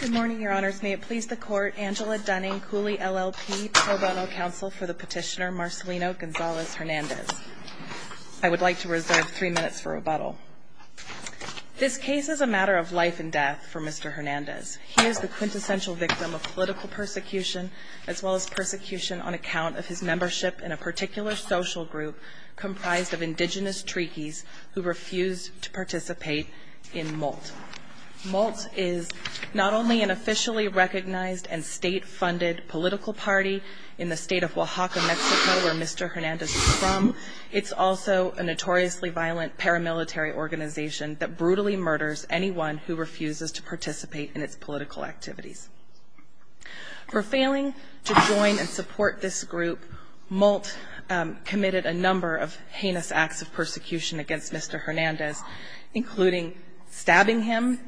Good morning, your honors. May it please the court, Angela Dunning, Cooley LLP, pro bono counsel for the petitioner Marcelino Gonzalez Hernandez. I would like to reserve three minutes for rebuttal. This case is a matter of life and death for Mr. Hernandez. He is the quintessential victim of political persecution as well as persecution on account of his membership in a particular social group comprised of indigenous Trekis who refused to participate in MOLT. MOLT is not only an officially recognized and state-funded political party in the state of Oaxaca, Mexico, where Mr. Hernandez is from, it's also a notoriously violent paramilitary organization that brutally murders anyone who refuses to participate in its political activities. For failing to join and support this group, MOLT committed a number of heinous acts of persecution against Mr. Hernandez, including stabbing him,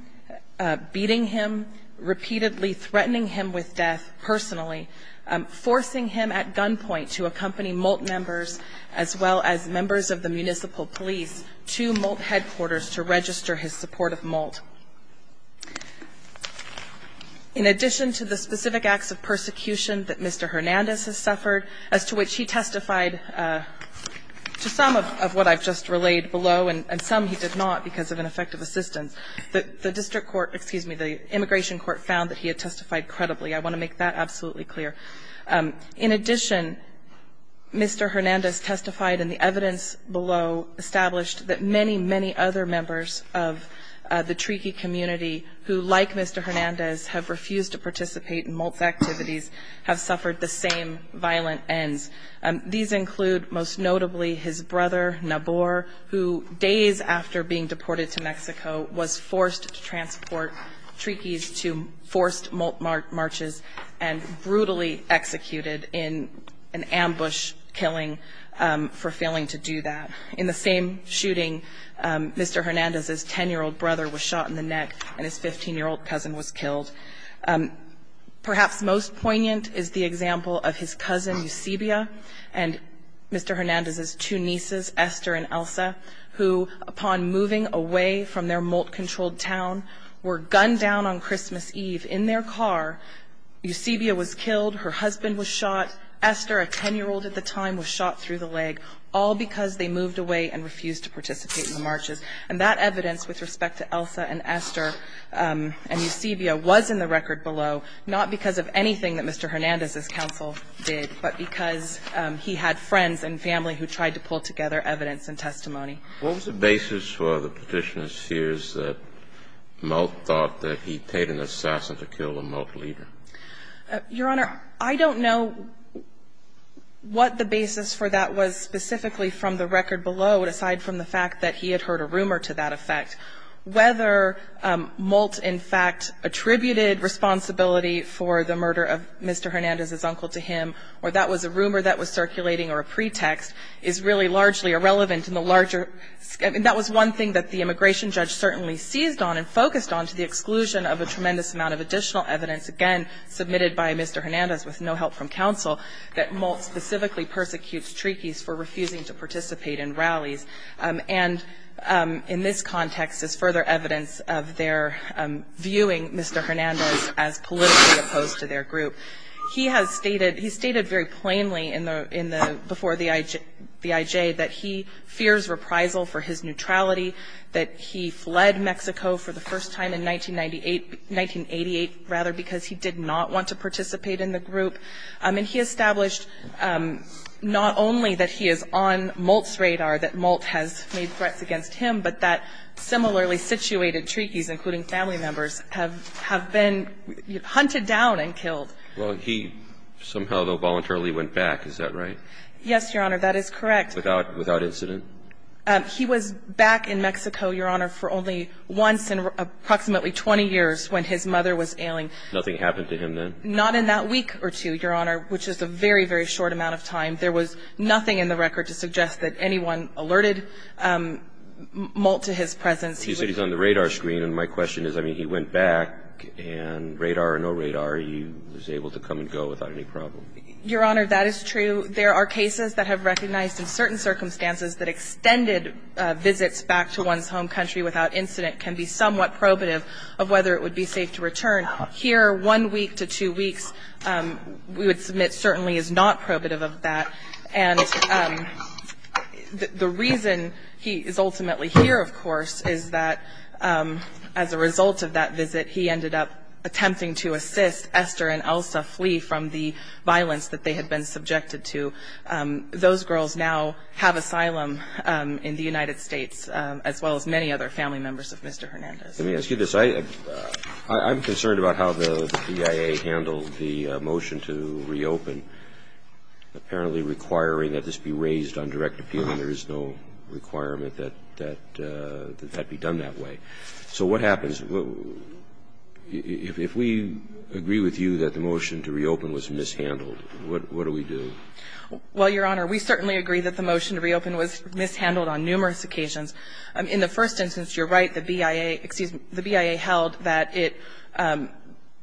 beating him, repeatedly threatening him with death personally, forcing him at gunpoint to accompany MOLT members as well as members of the municipal police to MOLT headquarters to register his support of MOLT. In addition to the specific acts of persecution that Mr. Hernandez has suffered, as to which he testified to some of what I've just relayed below and some he did not because of ineffective assistance, the district court, excuse me, the immigration court found that he had testified credibly. I want to make that absolutely clear. In addition, Mr. Hernandez testified in the evidence below established that many, many other members of the TREAKY community who, like Mr. Hernandez, have refused to participate in MOLT's activities, have suffered the same violent ends. These include, most notably, his brother, Nabor, who, days after being deported to Mexico, was forced to transport TREAKYs to forced MOLT marches and brutally executed in an ambush killing for failing to do that. In the same shooting, Mr. Hernandez's 10-year-old brother was shot in the neck and his 15-year-old cousin was killed. Perhaps most poignant is the example of his cousin Eusebio and Mr. Hernandez's two nieces, Esther and Elsa, who, upon moving away from their MOLT-controlled town, were gunned down on Christmas Eve in their car. Eusebio was killed. Her husband was shot. Esther, a 10-year-old at the time, was shot through the leg. All because they moved away and refused to participate in the marches. And that evidence with respect to Elsa and Esther and Eusebio was in the record below, not because of anything that Mr. Hernandez's counsel did, but because he had friends and family who tried to pull together evidence and testimony. What was the basis for the Petitioner's fears that MOLT thought that he paid an assassin to kill a MOLT leader? Your Honor, I don't know what the basis for that was specifically from the record below, aside from the fact that he had heard a rumor to that effect. Whether MOLT, in fact, attributed responsibility for the murder of Mr. Hernandez's uncle to him or that was a rumor that was circulating or a pretext is really largely irrelevant in the larger ---- that was one thing that the immigration judge certainly seized on and focused on to the exclusion of a tremendous amount of additional evidence, again, submitted by Mr. Hernandez with no help from counsel, that MOLT specifically persecutes treaties for refusing to participate in rallies. And in this context is further evidence of their viewing Mr. Hernandez as politically opposed to their group. He has stated, he stated very plainly before the IJ that he fears reprisal for his neutrality, that he fled Mexico for the first time in 1998, 1988, rather, because he did not want to participate in the group. And he established not only that he is on MOLT's radar, that MOLT has made threats against him, but that similarly situated treaties, including family members, have been hunted down and killed. Well, he somehow, though, voluntarily went back, is that right? Yes, Your Honor, that is correct. Without incident? He was back in Mexico, Your Honor, for only once in approximately 20 years when his mother was ailing. Nothing happened to him then? Not in that week or two, Your Honor, which is a very, very short amount of time. There was nothing in the record to suggest that anyone alerted MOLT to his presence. You said he's on the radar screen, and my question is, I mean, he went back, and radar or no radar, he was able to come and go without any problem? Your Honor, that is true. There are cases that have recognized, in certain circumstances, that extended visits back to one's home country without incident can be somewhat probative of whether it would be safe to return. Here, one week to two weeks, we would submit certainly is not probative of that. And the reason he is ultimately here, of course, is that as a result of that visit, he ended up attempting to assist Esther and Elsa Flea from the violence that they had been subjected to. Those girls now have asylum in the United States, as well as many other family members of Mr. Hernandez. Let me ask you this. I'm concerned about how the PIA handled the motion to reopen, apparently requiring that this be raised on direct appeal, and there is no requirement that that be done that way. So what happens? If we agree with you that the motion to reopen was mishandled, what do we do? Well, Your Honor, we certainly agree that the motion to reopen was mishandled on numerous occasions. In the first instance, you're right, the BIA held that it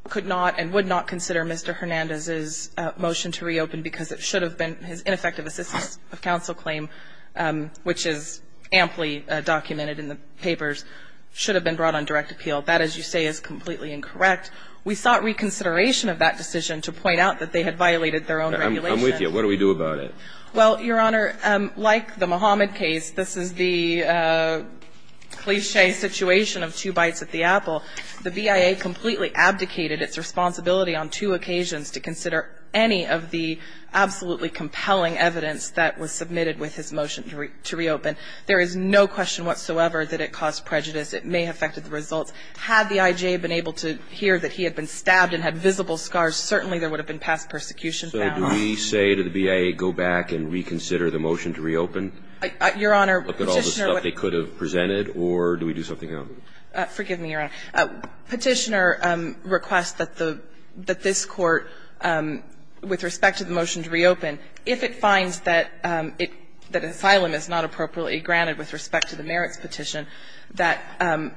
could not and would not consider Mr. Hernandez's motion to reopen because it should have been his ineffective assistance of counsel claim, which is amply documented in the papers, should have been brought on direct appeal. That, as you say, is completely incorrect. We sought reconsideration of that decision to point out that they had violated their own regulation. I'm with you. What do we do about it? Well, Your Honor, like the Muhammad case, this is the cliché situation of two bites at the apple. The BIA completely abdicated its responsibility on two occasions to consider any of the absolutely compelling evidence that was submitted with his motion to reopen. There is no question whatsoever that it caused prejudice. It may have affected the results. Had the IJ been able to hear that he had been stabbed and had visible scars, certainly there would have been past persecution found. So do we say to the BIA, go back and reconsider the motion to reopen? Your Honor, Petitioner ---- Look at all the stuff they could have presented, or do we do something else? Forgive me, Your Honor. Petitioner requests that this Court, with respect to the motion to reopen, if it finds that asylum is not appropriately granted with respect to the merits petition, that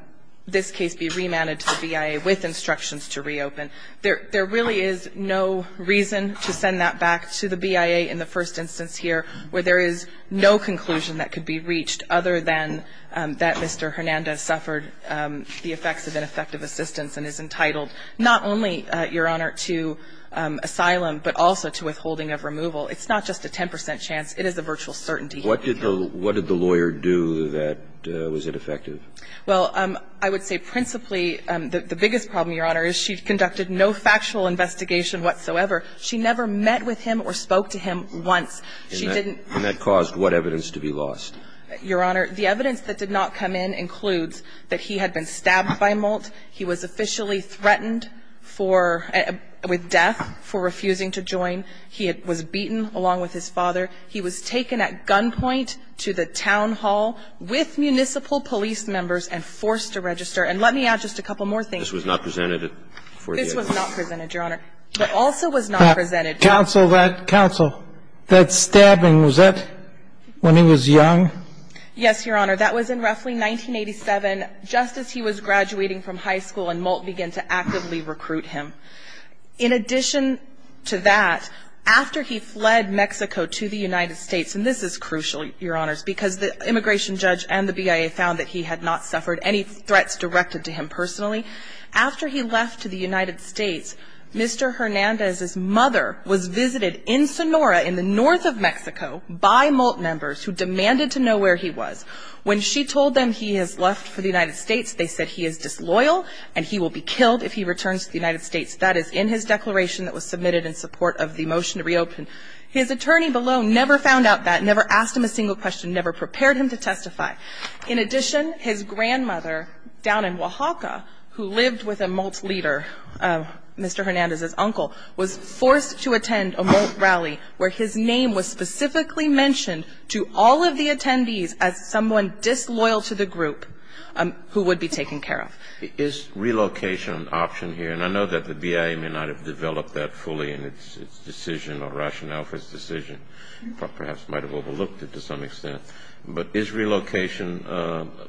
this case be remanded to the BIA with instructions to reopen. There really is no reason to send that back to the BIA in the first instance here where there is no conclusion that could be reached other than that Mr. Hernandez suffered the effects of ineffective assistance and is entitled not only, Your Honor, to asylum but also to withholding of removal. It's not just a 10 percent chance. It is a virtual certainty. What did the lawyer do that was ineffective? Well, I would say principally the biggest problem, Your Honor, is she conducted no factual investigation whatsoever. She never met with him or spoke to him once. And that caused what evidence to be lost? Your Honor, the evidence that did not come in includes that he had been stabbed by Moult, he was officially threatened for, with death for refusing to join. He was beaten along with his father. He was taken at gunpoint to the town hall with municipal police members and forced to register. And let me add just a couple more things. This was not presented at 48th. This was not presented, Your Honor. It also was not presented. Counsel, that stabbing, was that when he was young? Yes, Your Honor. That was in roughly 1987, just as he was graduating from high school and Moult began to actively recruit him. In addition to that, after he fled Mexico to the United States, and this is crucial, Your Honors, because the immigration judge and the BIA found that he had not suffered any threats directed to him personally. After he left to the United States, Mr. Hernandez's mother was visited in Sonora, in the north of Mexico, by Moult members who demanded to know where he was. When she told them he has left for the United States, they said he is disloyal and he will be killed if he returns to the United States. That is in his declaration that was submitted in support of the motion to reopen. His attorney below never found out that, never asked him a single question, never prepared him to testify. In addition, his grandmother down in Oaxaca, who lived with a Moult leader, Mr. Hernandez's uncle, was forced to attend a Moult rally where his name was specifically mentioned to all of the attendees as someone disloyal to the group who would be taken care of. Is relocation an option here? And I know that the BIA may not have developed that fully in its decision or rationale for its decision, but perhaps might have overlooked it to some extent. But is relocation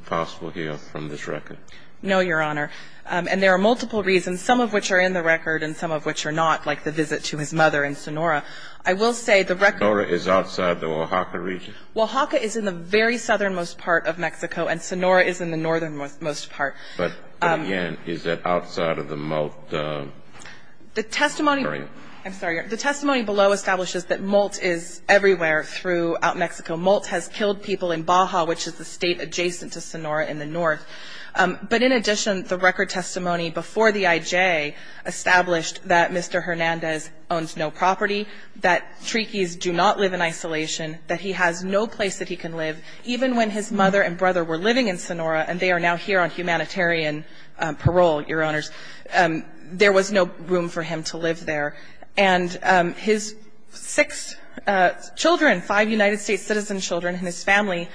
possible here from this record? No, Your Honor. And there are multiple reasons, some of which are in the record and some of which are not, like the visit to his mother in Sonora. I will say the record Sonora is outside the Oaxaca region? Oaxaca is in the very southernmost part of Mexico and Sonora is in the northernmost part. But again, is that outside of the Moult area? I'm sorry. The testimony below establishes that Moult is everywhere throughout Mexico. Moult has killed people in Baja, which is the state adjacent to Sonora in the north. But in addition, the record testimony before the IJ established that Mr. Hernandez owns no property, that Trikis do not live in isolation, that he has no place that he can live. Even when his mother and brother were living in Sonora, and they are now here on humanitarian parole, Your Honors, there was no room for him to live there. And his six children, five United States citizen children and his family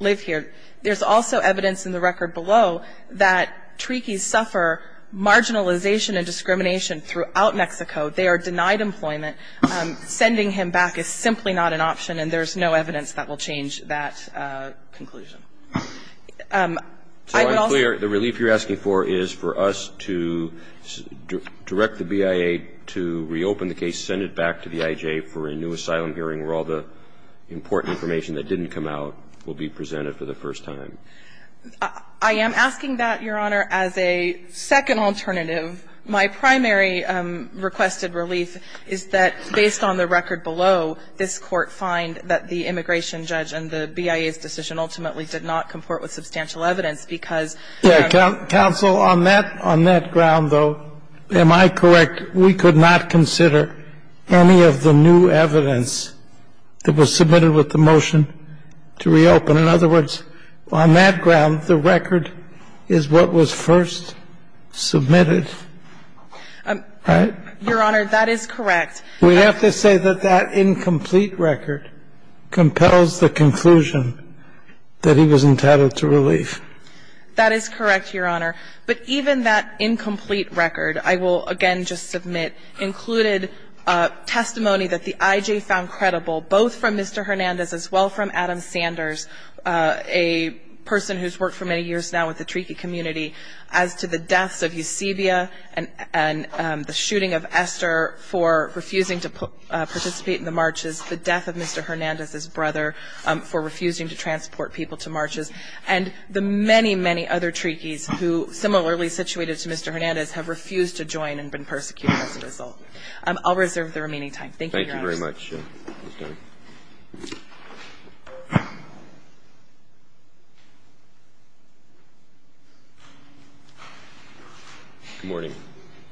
live here. There's also evidence in the record below that Trikis suffer marginalization and discrimination throughout Mexico. They are denied employment. Sending him back is simply not an option, and there's no evidence that will change that conclusion. I would also ---- So I'm clear the relief you're asking for is for us to direct the BIA to reopen the case, send it back to the IJ for a new asylum hearing where all the important information that didn't come out will be presented for the first time. I am asking that, Your Honor, as a second alternative. My primary requested relief is that based on the record below, this Court find that the immigration judge and the BIA's decision ultimately did not comport with substantial evidence because ---- Counsel, on that ground, though, am I correct? We could not consider any of the new evidence that was submitted with the motion to reopen. In other words, on that ground, the record is what was first submitted, right? Your Honor, that is correct. We have to say that that incomplete record compels the conclusion that he was intended to relieve. That is correct, Your Honor. But even that incomplete record, I will again just submit, included testimony that the IJ found credible, both from Mr. Hernandez as well from Adam Sanders, a person who's worked for many years now with the treaty community, as to the deaths of Eusebio and the shooting of Esther for refusing to participate in the marches, the death of Mr. Hernandez's brother for refusing to transport people to marches, and the many, many other treaties who, similarly situated to Mr. Hernandez, have refused to join and been persecuted as a result. I'll reserve the remaining time. Thank you, Your Honor. Thank you very much, Ms. Dunn. Good morning.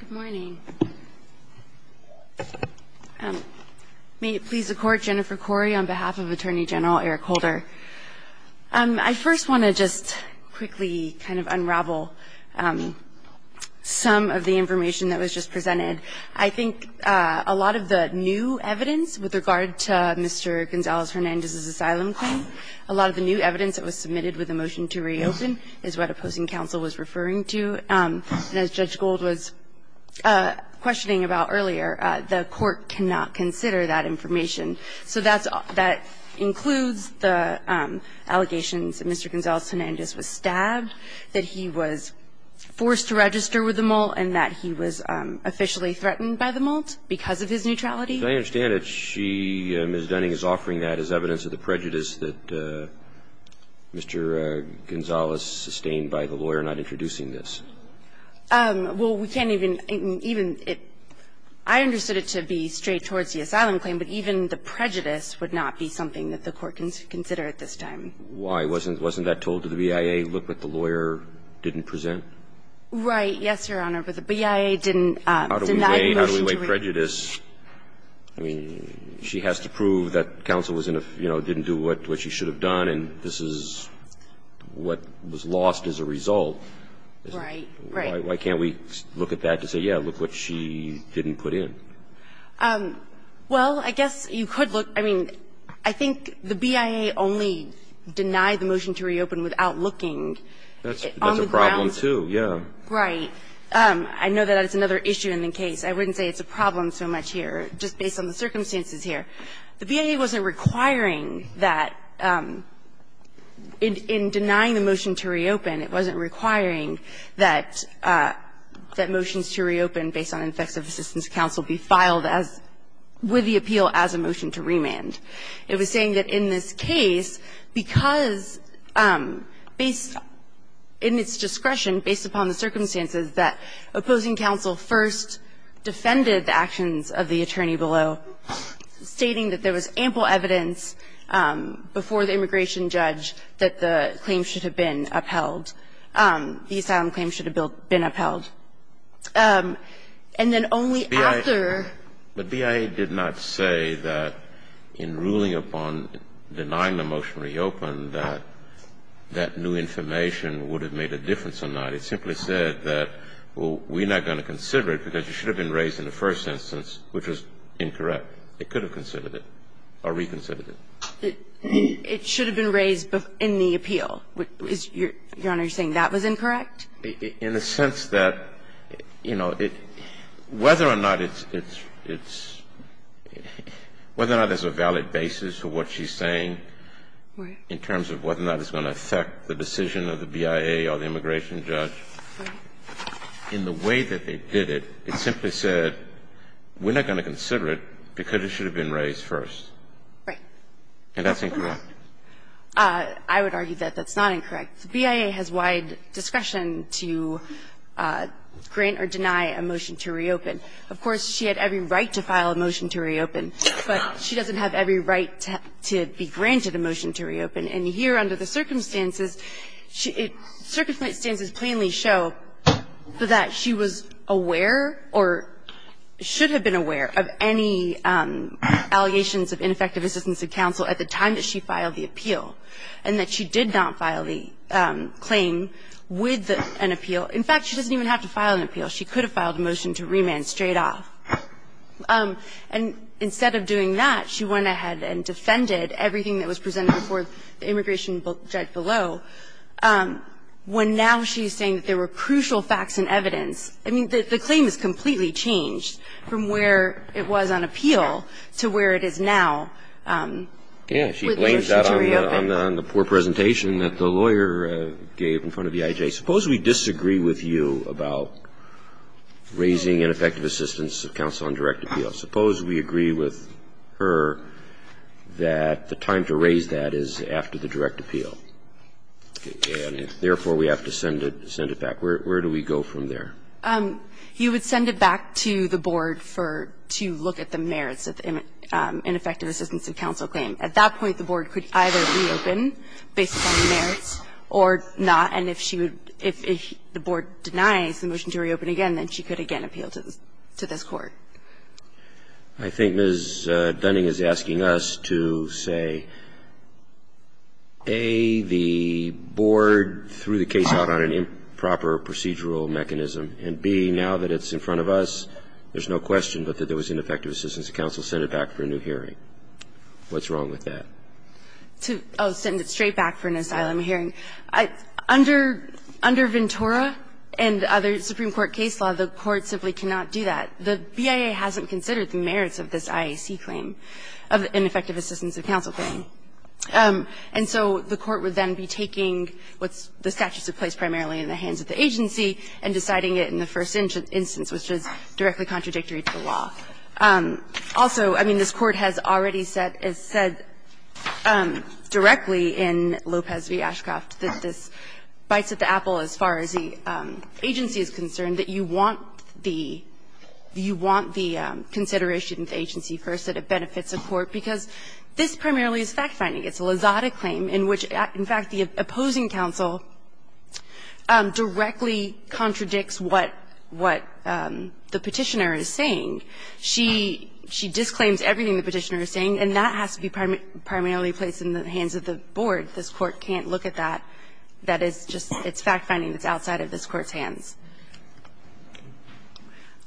Good morning. May it please the Court, Jennifer Corey on behalf of Attorney General Eric Holder. I first want to just quickly kind of unravel some of the information that was just presented. I think a lot of the new evidence with regard to Mr. Gonzalez-Hernandez's asylum claim, a lot of the new evidence that was submitted with the motion to reopen is what opposing counsel was referring to. And as Judge Gold was questioning about earlier, the Court cannot consider that information. So that includes the allegations that Mr. Gonzalez-Hernandez was stabbed, that he was forced to register with the Malt, and that he was officially threatened by the Malt because of his neutrality. I understand that she, Ms. Dunning, is offering that as evidence of the prejudice that Mr. Gonzalez sustained by the lawyer not introducing this. Well, we can't even – I understood it to be straight towards the asylum claim, but even the prejudice would not be something that the Court can consider at this time. Why? Wasn't that told to the BIA, look what the lawyer didn't present? Right. Yes, Your Honor. But the BIA didn't deny the motion to reopen. How do we weigh prejudice? I mean, she has to prove that counsel was in a, you know, didn't do what she should have done, and this is what was lost as a result. Right. Why can't we look at that to say, yeah, look what she didn't put in? Well, I guess you could look. I mean, I think the BIA only denied the motion to reopen without looking. That's a problem, too, yeah. Right. I know that that's another issue in the case. I wouldn't say it's a problem so much here, just based on the circumstances here. The BIA wasn't requiring that in denying the motion to reopen, it wasn't requiring that motions to reopen based on effects of assistance counsel be filed as with the appeal as a motion to remand. It was saying that in this case, because based in its discretion, based upon the circumstances, that opposing counsel first defended the actions of the attorney below, stating that there was ample evidence before the immigration judge that the claim should have been upheld. The asylum claim should have been upheld. And then only after But BIA did not say that in ruling upon denying the motion to reopen that that new information would have made a difference or not. It simply said that, well, we're not going to consider it because it should have been raised in the first instance, which was incorrect. It could have considered it or reconsidered it. It should have been raised in the appeal. Your Honor, you're saying that was incorrect? In the sense that, you know, whether or not it's – whether or not there's a valid basis for what she's saying in terms of whether or not it's going to affect the decision of the BIA or the immigration judge, in the way that they did it, it simply said, we're not going to consider it because it should have been raised first. Right. And that's incorrect. I would argue that that's not incorrect. BIA has wide discretion to grant or deny a motion to reopen. Of course, she had every right to file a motion to reopen, but she doesn't have every right to be granted a motion to reopen. And here, under the circumstances, circumstances plainly show that she was aware or should have been aware of any allegations of ineffective assistance of counsel at the time that she filed the appeal and that she did not file the claim with an appeal. In fact, she doesn't even have to file an appeal. She could have filed a motion to remand straight off. And instead of doing that, she went ahead and defended everything that was presented before the immigration judge below, when now she's saying that there were crucial facts and evidence. I mean, the claim is completely changed from where it was on appeal to where it is now with the motion to reopen. Yeah. She blames that on the poor presentation that the lawyer gave in front of EIJ. Suppose we disagree with you about raising ineffective assistance of counsel on direct appeal. Suppose we agree with her that the time to raise that is after the direct appeal and, therefore, we have to send it back. Where do we go from there? You would send it back to the board for to look at the merits of ineffective assistance of counsel claim. At that point, the board could either reopen based on the merits or not. And if she would – if the board denies the motion to reopen again, then she could again appeal to this Court. I think Ms. Dunning is asking us to say, A, the board threw the case out on an improper procedural mechanism, and, B, now that it's in front of us, there's no question but that there was ineffective assistance of counsel, send it back for a new hearing. What's wrong with that? To – oh, send it straight back for an asylum hearing. Under Ventura and other Supreme Court case law, the Court simply cannot do that. The BIA hasn't considered the merits of this IAC claim, of ineffective assistance of counsel claim. And so the Court would then be taking what's – the statutes of place primarily in the hands of the agency and deciding it in the first instance, which is directly contradictory to the law. Also, I mean, this Court has already said – has said directly in Lopez v. Ashcroft that this bites at the apple as far as the agency is concerned, that you want the – you want the consideration of the agency first, that it benefits the court, because this primarily is fact-finding. It's a Lozada claim in which, in fact, the opposing counsel directly contradicts what – what the Petitioner is saying. She – she disclaims everything the Petitioner is saying, and that has to be primarily placed in the hands of the board. This Court can't look at that. That is just – it's fact-finding that's outside of this Court's hands.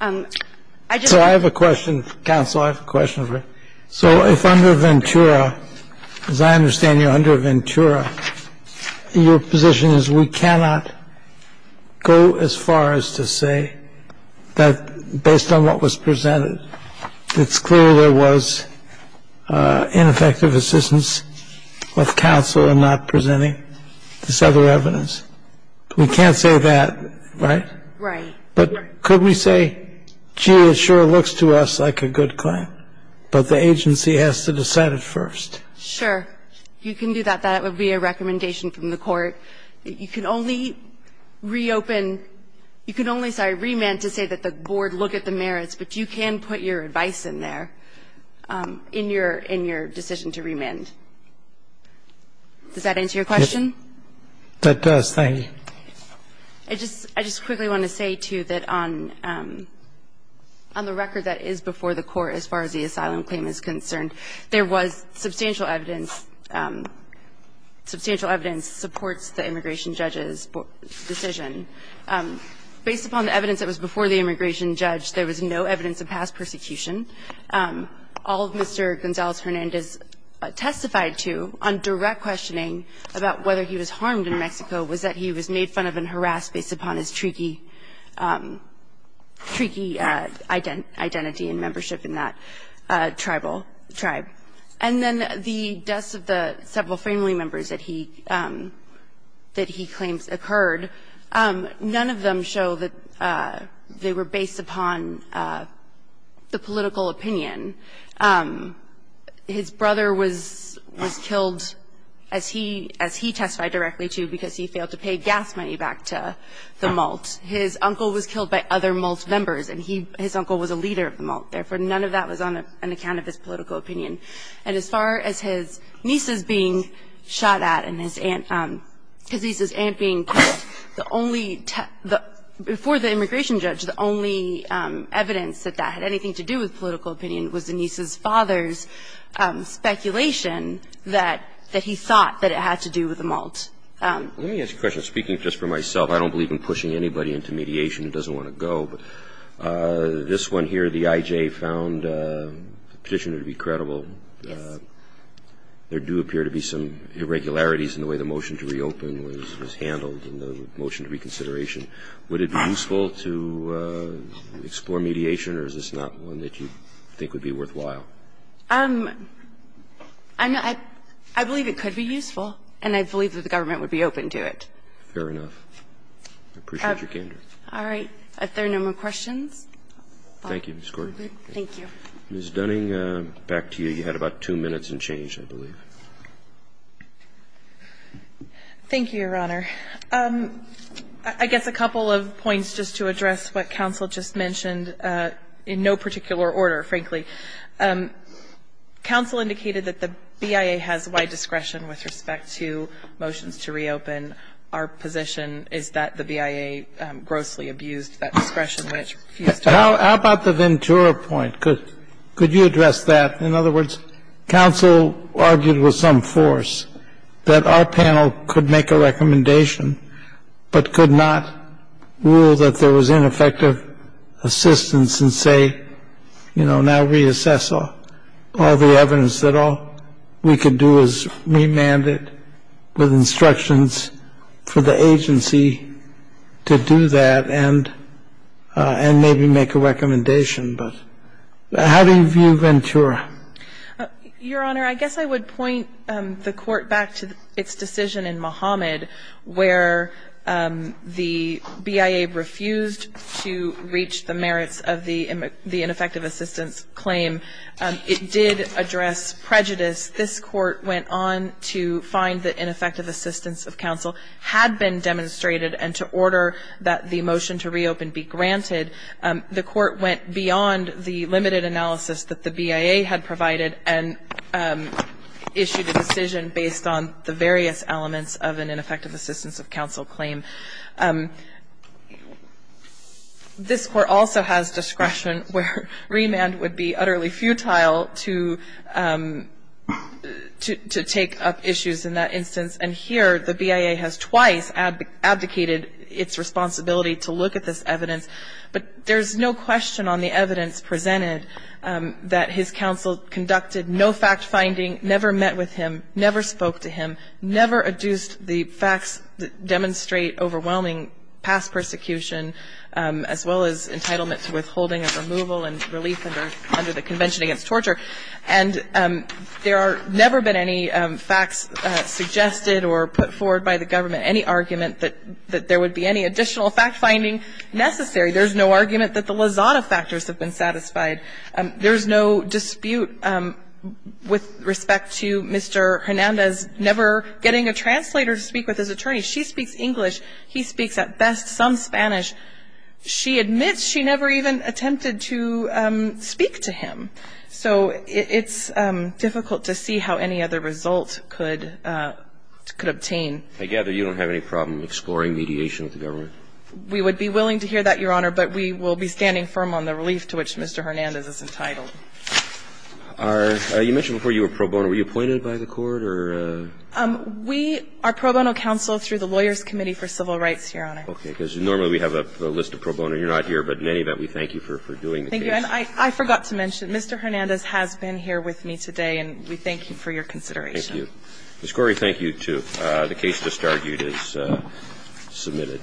I just want to say – So I have a question, counsel. I have a question. Okay. So under Ventura, as I understand you, under Ventura, your position is we cannot go as far as to say that, based on what was presented, it's clear there was ineffective assistance of counsel in not presenting this other evidence. We can't say that, right? Right. But could we say, gee, it sure looks to us like a good claim, but the agency has to decide it first? Sure. You can do that. That would be a recommendation from the court. You can only reopen you can only, sorry, remand to say that the board look at the merits, but you can put your advice in there in your decision to remand. Does that answer your question? That does. Thank you. I just quickly want to say, too, that on the record that is before the Court as far as the asylum claim is concerned, there was substantial evidence, substantial evidence supports the immigration judge's decision. Based upon the evidence that was before the immigration judge, there was no evidence of past persecution. All Mr. Gonzalez-Hernandez testified to on direct questioning about whether he was publicly harassed or not because he was a member of that tribe, and he was not publicly He can't be made fun of and harassed based upon his tricky, tricky identity and membership in that tribal tribe. And then the deaths of the several family members that he claims occurred, none of them show that they were based upon the political opinion. His brother was killed, as he testified directly to, because he failed to pay gas money back to the Malt. His uncle was killed by other Malt members, and his uncle was a leader of the Malt. Therefore, none of that was on account of his political opinion. And as far as his nieces being shot at and his aunt, his niece's aunt being killed, the only, before the immigration judge, the only evidence that that had anything to do with political opinion was the niece's father's speculation that he thought that it had to do with the Malt. Let me ask a question. Speaking just for myself, I don't believe in pushing anybody into mediation who doesn't want to go. This one here, the IJ found the petitioner to be credible. Yes. There do appear to be some irregularities in the way the motion to reopen was handled in the motion to reconsideration. Would it be useful to explore mediation, or is this not one that you think would be worthwhile? I believe it could be useful, and I believe that the government would be open to it. Fair enough. I appreciate your candor. All right. If there are no more questions. Thank you, Ms. Gordon. Thank you. Ms. Dunning, back to you. You had about two minutes and change, I believe. Thank you, Your Honor. I guess a couple of points just to address what counsel just mentioned, in no particular order, frankly. Counsel indicated that the BIA has wide discretion with respect to motions to reopen. Our position is that the BIA grossly abused that discretion. How about the Ventura point? Could you address that? In other words, counsel argued with some force that our panel could make a recommendation but could not rule that there was ineffective assistance and say, you know, now reassess all the evidence that all we could do is remand it with instructions for the agency to do that and maybe make a recommendation. But how do you view Ventura? Your Honor, I guess I would point the Court back to its decision in Mohamed where the BIA refused to reach the merits of the ineffective assistance claim. It did address prejudice. This Court went on to find that ineffective assistance of counsel had been demonstrated and to order that the motion to reopen be granted. The Court went beyond the limited analysis that the BIA had provided and issued a decision based on the various elements of an ineffective assistance of counsel claim. This Court also has discretion where remand would be utterly futile to take up issues in that instance, and here the BIA has twice abdicated its responsibility to look at this evidence. But there's no question on the evidence presented that his counsel conducted no fact-finding, never met with him, never spoke to him, never adduced the facts that demonstrate overwhelming past persecution, as well as entitlement to withholding of removal and relief under the Convention Against Torture. And there have never been any facts suggested or put forward by the government, any argument that there would be any additional fact-finding necessary. There's no argument that the Lozada factors have been satisfied. There's no dispute with respect to Mr. Hernandez never getting a translator to speak with his attorney. She speaks English. He speaks at best some Spanish. She admits she never even attempted to speak to him. So it's difficult to see how any other result could obtain. I gather you don't have any problem exploring mediation with the government? We would be willing to hear that, Your Honor, but we will be standing firm on the grounds that Mr. Hernandez is entitled. You mentioned before you were pro bono. Were you appointed by the Court or? We are pro bono counsel through the Lawyers' Committee for Civil Rights, Your Honor. Okay. Because normally we have a list of pro bono. You're not here, but in any event, we thank you for doing the case. Thank you. And I forgot to mention, Mr. Hernandez has been here with me today, and we thank you for your consideration. Thank you. Ms. Corey, thank you, too. The case just argued is submitted.